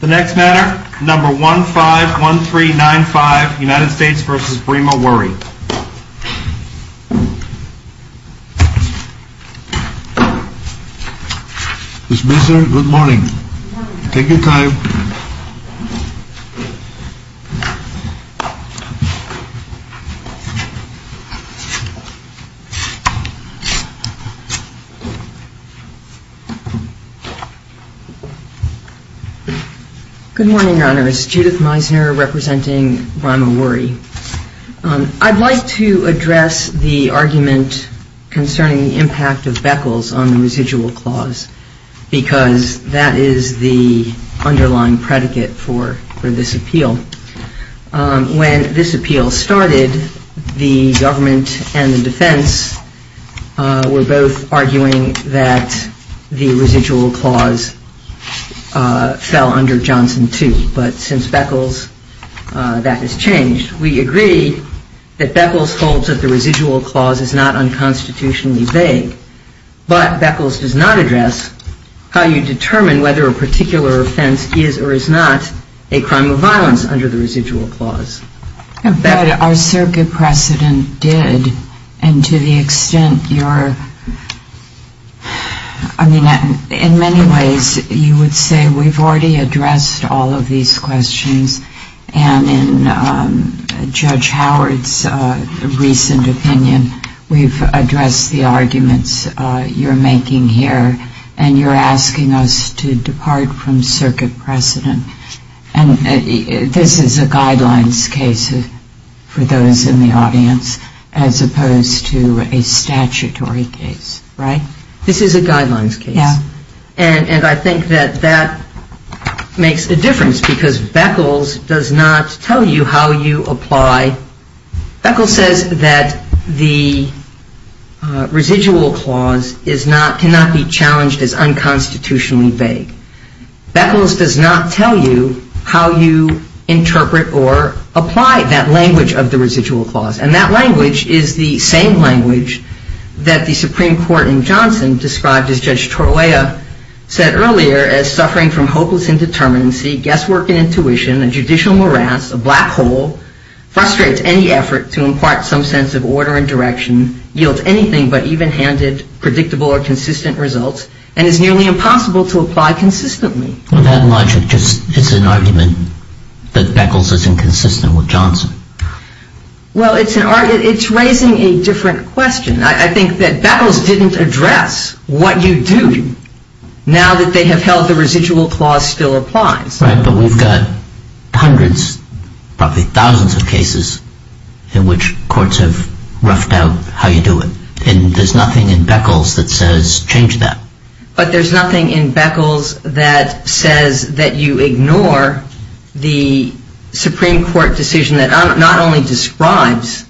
The next matter, number 151395, United States v. Brima Wurie Mr. Minister, good morning. Take your time. Good morning, Your Honors. Judith Meisner representing Brima Wurie. I'd like to address the argument concerning the impact of Beckles on the residual clause, because that is the underlying predicate for this appeal. When this appeal started, the government and the defense were both arguing that the residual clause fell under Johnson 2. But since Beckles, that has changed. We agree that Beckles holds that the residual clause is not unconstitutionally vague, but Beckles does not address how you determine whether a particular offense is or is not a crime of violence under the residual clause. But our circuit precedent did, and to the extent your... I mean, in many ways, you would say we've already addressed all of these questions, and in Judge Howard's recent opinion, we've addressed the arguments you're making here, and you're asking us to depart from circuit precedent. And this is a guidelines case for those in the audience, as opposed to a statutory case, right? This is a guidelines case. Yeah. And I think that that makes a difference, because Beckles does not tell you how you apply... Beckles says that the residual clause cannot be challenged as unconstitutionally vague. Beckles does not tell you how you interpret or apply that language of the residual clause. And that language is the same language that the Supreme Court in Johnson described, as Judge Torolla said earlier, as suffering from hopeless indeterminacy, guesswork and intuition, a judicial morass, a black hole, frustrates any effort to impart some sense of order and direction, yields anything but even-handed, predictable or consistent results, and is nearly impossible to apply consistently. Well, that logic just is an argument that Beckles is inconsistent with Johnson. Well, it's raising a different question. I think that Beckles didn't address what you do now that they have held the residual clause still applies. Right, but we've got hundreds, probably thousands of cases in which courts have roughed out how you do it, and there's nothing in Beckles that says change that. But there's nothing in Beckles that says that you ignore the Supreme Court decision that not only describes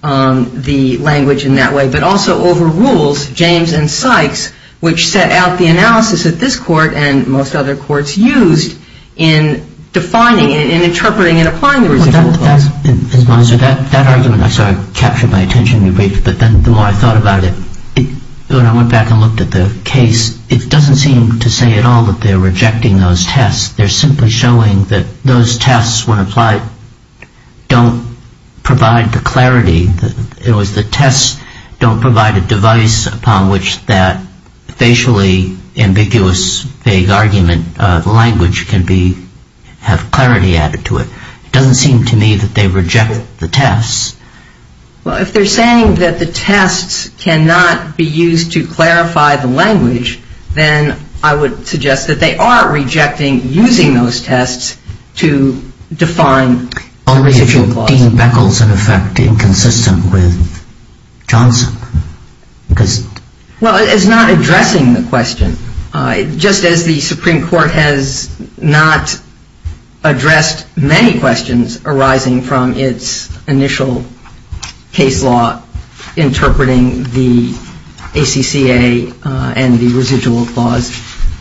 the language in that way, but also overrules James and Sykes, which set out the analysis that this Court and most other courts used in defining and interpreting and applying the residual clause. That argument, I'm sorry, captured my attention in the brief, but then the more I thought about it, when I went back and looked at the case, it doesn't seem to say at all that they're rejecting those tests. They're simply showing that those tests, when applied, don't provide the clarity. It was the tests don't provide a device upon which that facially ambiguous, vague argument, the language can have clarity added to it. It doesn't seem to me that they reject the tests. Well, if they're saying that the tests cannot be used to clarify the language, then I would suggest that they are rejecting using those tests to define the residual clause. Only if you deem Beckles, in effect, inconsistent with Johnson. Well, it's not addressing the question. Just as the Supreme Court has not addressed many questions arising from its initial case law interpreting the ACCA and the residual clause,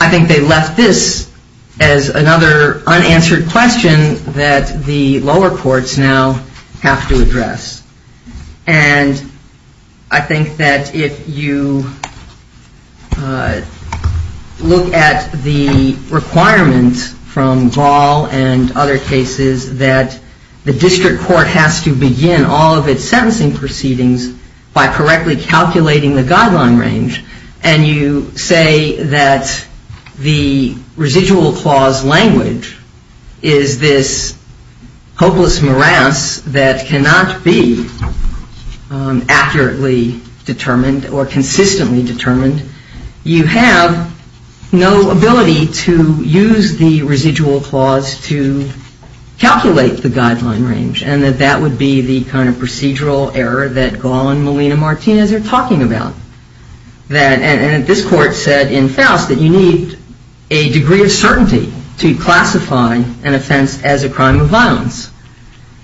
I think they left this as another unanswered question that the lower courts now have to address. And I think that if you look at the requirement from Ball and other cases that the district court has to begin all of its sentencing proceedings by correctly calculating the guideline range, and you say that the residual clause language is this hopeless morass that cannot be accurately determined or consistently determined, you have no ability to use the residual clause to calculate the guideline range, and that that would be the kind of procedural error that Gall and Molina-Martinez are talking about. And this court said in Faust that you need a degree of certainty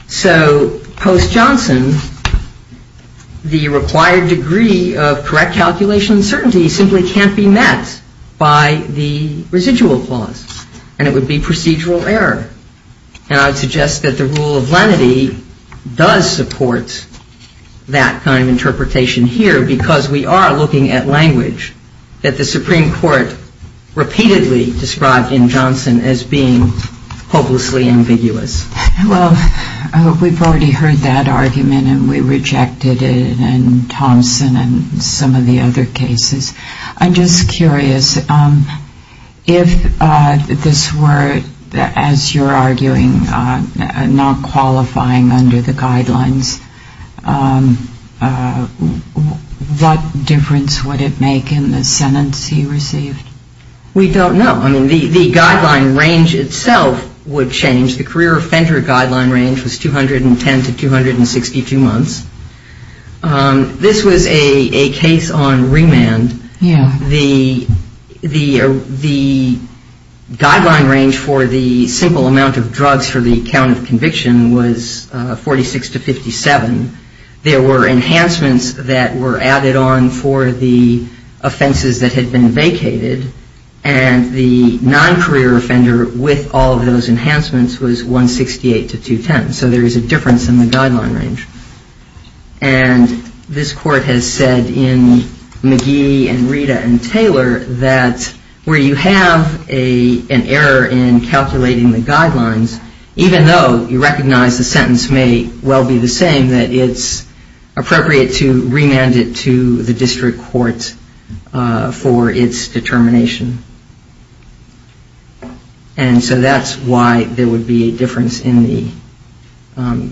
So post-Johnson, the required degree of correct calculation and certainty simply can't be met by the residual clause, and it would be procedural error. And I would suggest that the rule of lenity does support that kind of interpretation here because we are looking at language that the Supreme Court repeatedly described in Johnson as being hopelessly ambiguous. Well, we've already heard that argument, and we rejected it in Thompson and some of the other cases. I'm just curious. If this were, as you're arguing, not qualifying under the guidelines, what difference would it make in the sentence he received? We don't know. I mean, the guideline range itself would change. The career offender guideline range was 210 to 262 months. This was a case on remand. The guideline range for the simple amount of drugs for the count of conviction was 46 to 57. There were enhancements that were added on for the offenses that had been vacated, and the non-career offender with all of those enhancements was 168 to 210. So there is a difference in the guideline range. And this court has said in McGee and Rita and Taylor that where you have an error in calculating the guidelines, even though you recognize the sentence may well be the same, that it's appropriate to remand it to the district court for its determination. And so that's why there would be a difference in the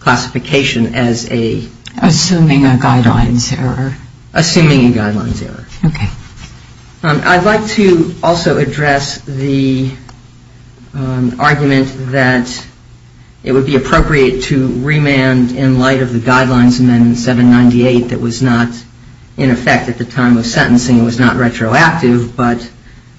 classification as a... Assuming a guidelines error. Assuming a guidelines error. Okay. I'd like to also address the argument that it would be appropriate to remand in light of the guidelines amendment 798 that was not in effect at the time of sentencing. It was not retroactive, but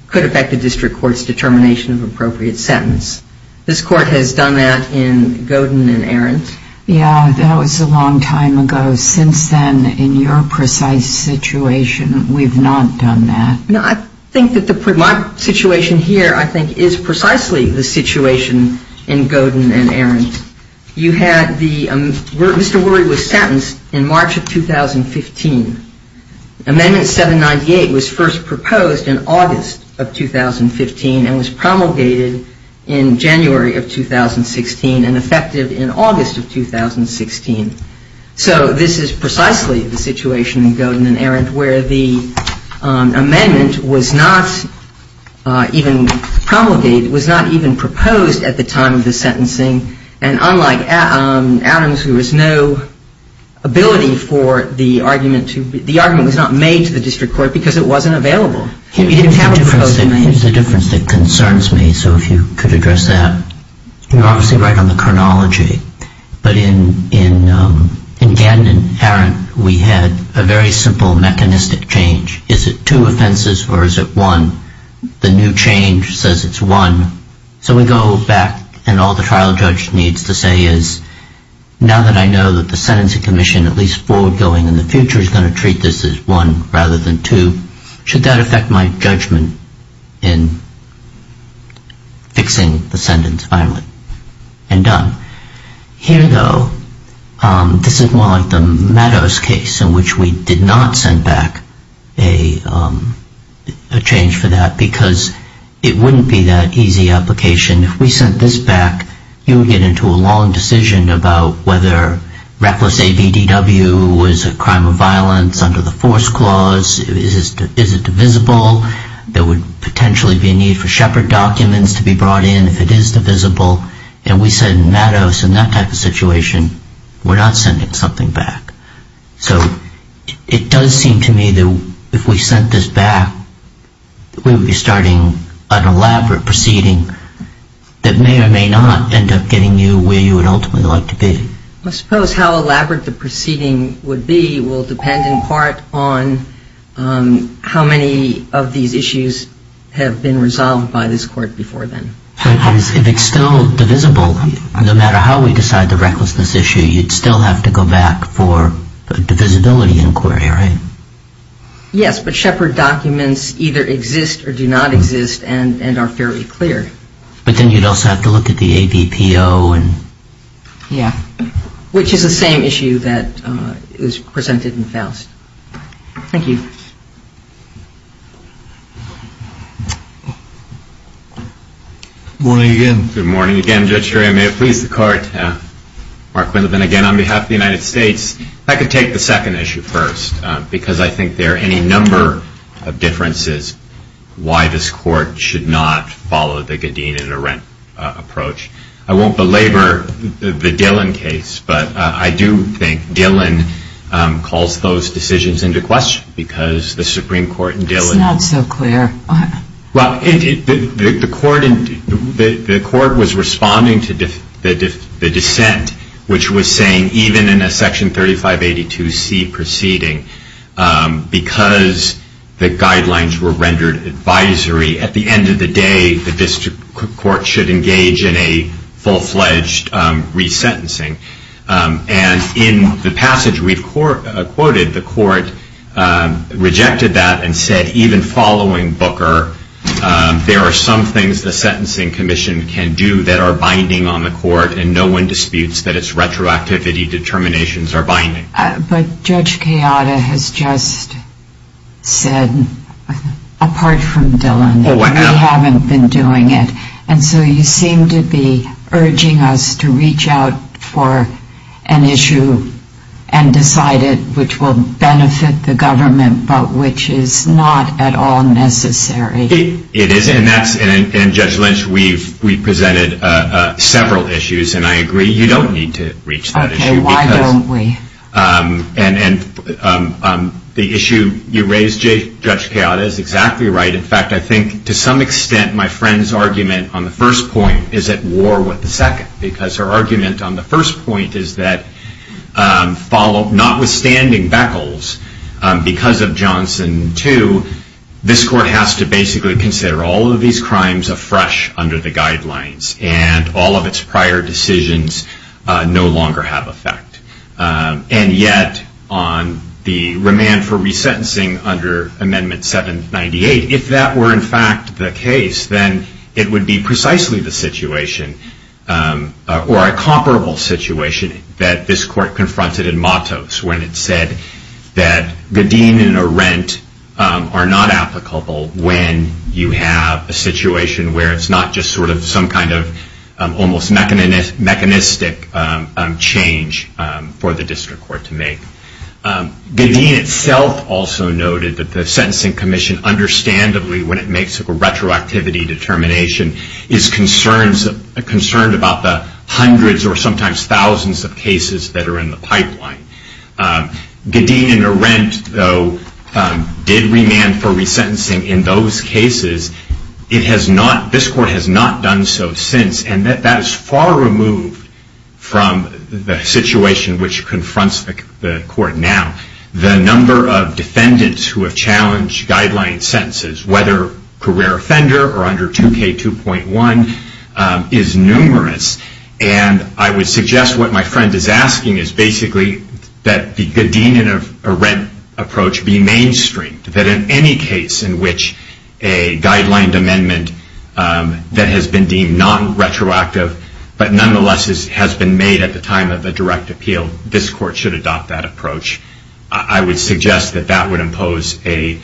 could affect the district court's determination of appropriate sentence. This court has done that in Godin and Arendt. Yeah, that was a long time ago. Since then, in your precise situation, we've not done that. No, I think that my situation here, I think, is precisely the situation in Godin and Arendt. You had the Mr. Worry was sentenced in March of 2015. Amendment 798 was first proposed in August of 2015 and was promulgated in January of 2016 and effective in August of 2016. So this is precisely the situation in Godin and Arendt where the amendment was not even promulgated, was not even proposed at the time of the sentencing. And unlike Adams, who has no ability for the argument to be... The argument was not made to the district court because it wasn't available. It's a difference that concerns me, so if you could address that. You're obviously right on the chronology. But in Godin and Arendt, we had a very simple mechanistic change. Is it two offenses or is it one? The new change says it's one. So we go back and all the trial judge needs to say is, now that I know that the sentencing commission, at least forward-going in the future, is going to treat this as one rather than two, should that affect my judgment in fixing the sentence finally? And done. Here, though, this is more like the Meadows case in which we did not send back a change for that because it wouldn't be that easy application. If we sent this back, you would get into a long decision about whether reckless ABDW was a crime of violence under the force clause. Is it divisible? There would potentially be a need for Shepard documents to be brought in if it is divisible. And we said in Meadows, in that type of situation, we're not sending something back. So it does seem to me that if we sent this back, we would be starting an elaborate proceeding that may or may not end up getting you where you would ultimately like to be. I suppose how elaborate the proceeding would be will depend in part on how many of these issues have been resolved by this court before then. If it's still divisible, no matter how we decide the recklessness issue, you'd still have to go back for a divisibility inquiry, right? Yes, but Shepard documents either exist or do not exist and are fairly clear. But then you'd also have to look at the ADPO. Yeah, which is the same issue that was presented in Faust. Thank you. Good morning again. Good morning again, Judge Sherry. I may have pleased the court. Mark Wendelvin again on behalf of the United States. I could take the second issue first because I think there are any number of differences as to why this court should not follow the Gideon and Arendt approach. I won't belabor the Dillon case, but I do think Dillon calls those decisions into question because the Supreme Court in Dillon It's not so clear. Well, the court was responding to the dissent, which was saying even in a Section 3582C proceeding, because the guidelines were rendered advisory, at the end of the day, the district court should engage in a full-fledged resentencing. And in the passage we've quoted, the court rejected that and said even following Booker, there are some things the Sentencing Commission can do that are binding on the court and no one disputes that its retroactivity determinations are binding. But Judge Kayada has just said, apart from Dillon, that we haven't been doing it. And so you seem to be urging us to reach out for an issue and decide it which will benefit the government, but which is not at all necessary. It isn't. And Judge Lynch, we've presented several issues, and I agree you don't need to reach that issue. Why don't we? And the issue you raised, Judge Kayada, is exactly right. In fact, I think to some extent my friend's argument on the first point is at war with the second, because her argument on the first point is that notwithstanding Beckles, because of Johnson 2, this court has to basically consider all of these crimes afresh under the guidelines and all of its prior decisions no longer have effect. And yet on the remand for resentencing under Amendment 798, if that were in fact the case, then it would be precisely the situation, or a comparable situation, that this court confronted in Matos when it said that Gadeen and Arendt are not applicable when you have a situation where it's not just sort of some kind of almost mechanistic change for the district court to make. Gadeen itself also noted that the Sentencing Commission understandably, when it makes a retroactivity determination, is concerned about the hundreds or sometimes thousands of cases that are in the pipeline. Gadeen and Arendt, though, did remand for resentencing in those cases. This court has not done so since. And that is far removed from the situation which confronts the court now. The number of defendants who have challenged guideline sentences, whether career offender or under 2K2.1, is numerous. And I would suggest what my friend is asking is basically that the Gadeen and Arendt approach be mainstream. That in any case in which a guideline amendment that has been deemed non-retroactive, but nonetheless has been made at the time of a direct appeal, this court should adopt that approach. I would suggest that that would impose a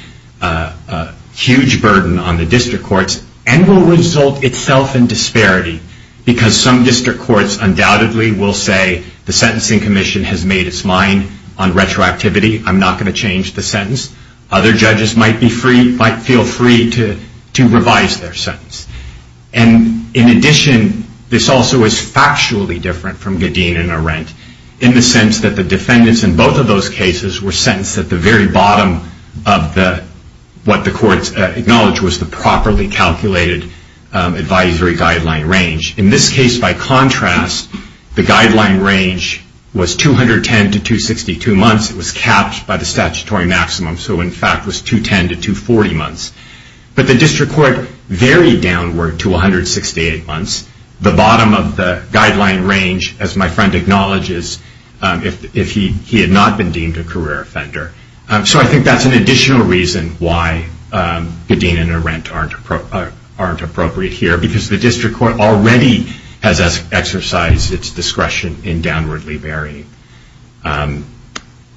huge burden on the district courts and will result itself in disparity. Because some district courts undoubtedly will say the Sentencing Commission has made its mind on retroactivity. I'm not going to change the sentence. Other judges might feel free to revise their sentence. And in addition, this also is factually different from Gadeen and Arendt in the sense that the defendants in both of those cases were sentenced at the very bottom of what the courts acknowledged was the properly calculated advisory guideline range. In this case, by contrast, the guideline range was 210 to 262 months. It was capped by the statutory maximum, so in fact was 210 to 240 months. But the district court varied downward to 168 months. The bottom of the guideline range, as my friend acknowledges, if he had not been deemed a career offender. So I think that's an additional reason why Gadeen and Arendt aren't appropriate here, because the district court already has exercised its discretion in downwardly varying.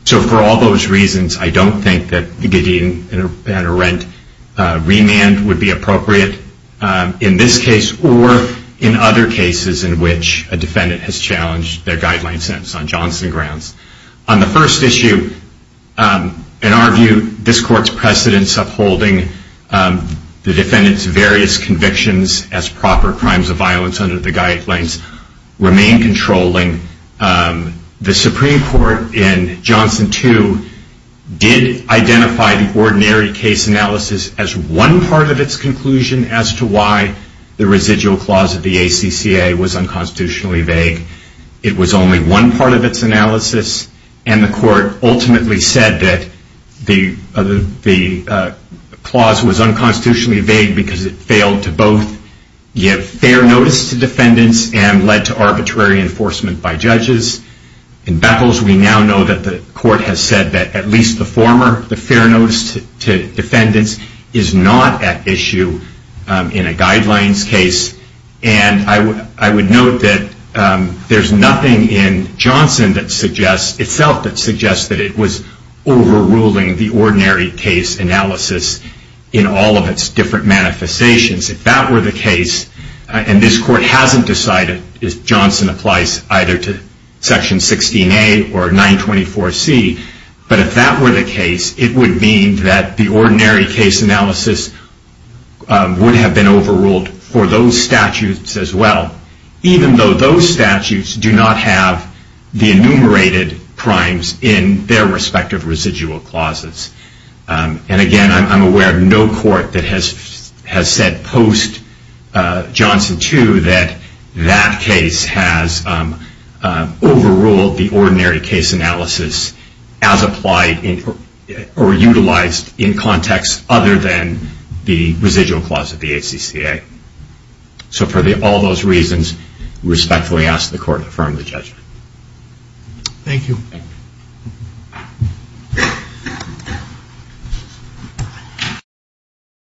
So for all those reasons, I don't think that the Gadeen and Arendt remand would be appropriate in this case or in other cases in which a defendant has challenged their guideline sentence on Johnson grounds. On the first issue, in our view, this court's precedents upholding the defendant's various convictions as proper crimes of violence under the guidelines remain controlling. The Supreme Court in Johnson 2 did identify the ordinary case analysis as one part of its conclusion as to why the residual clause of the ACCA was unconstitutionally vague. It was only one part of its analysis, and the court ultimately said that the clause was unconstitutionally vague because it failed to both give fair notice to defendants and led to arbitrary enforcement by judges. In Beckles, we now know that the court has said that at least the former, the fair notice to defendants is not at issue in a guidelines case, and I would note that there's nothing in Johnson itself that suggests that it was overruling the ordinary case analysis in all of its different manifestations. If that were the case, and this court hasn't decided, Johnson applies either to Section 16A or 924C, but if that were the case, it would mean that the ordinary case analysis would have been overruled for those statutes as well, even though those statutes do not have the enumerated crimes in their respective residual clauses. And again, I'm aware of no court that has said post-Johnson, too, that that case has overruled the ordinary case analysis as applied or utilized in context other than the residual clause of the ACCA. So for all those reasons, I respectfully ask the court to affirm the judgment. Thank you.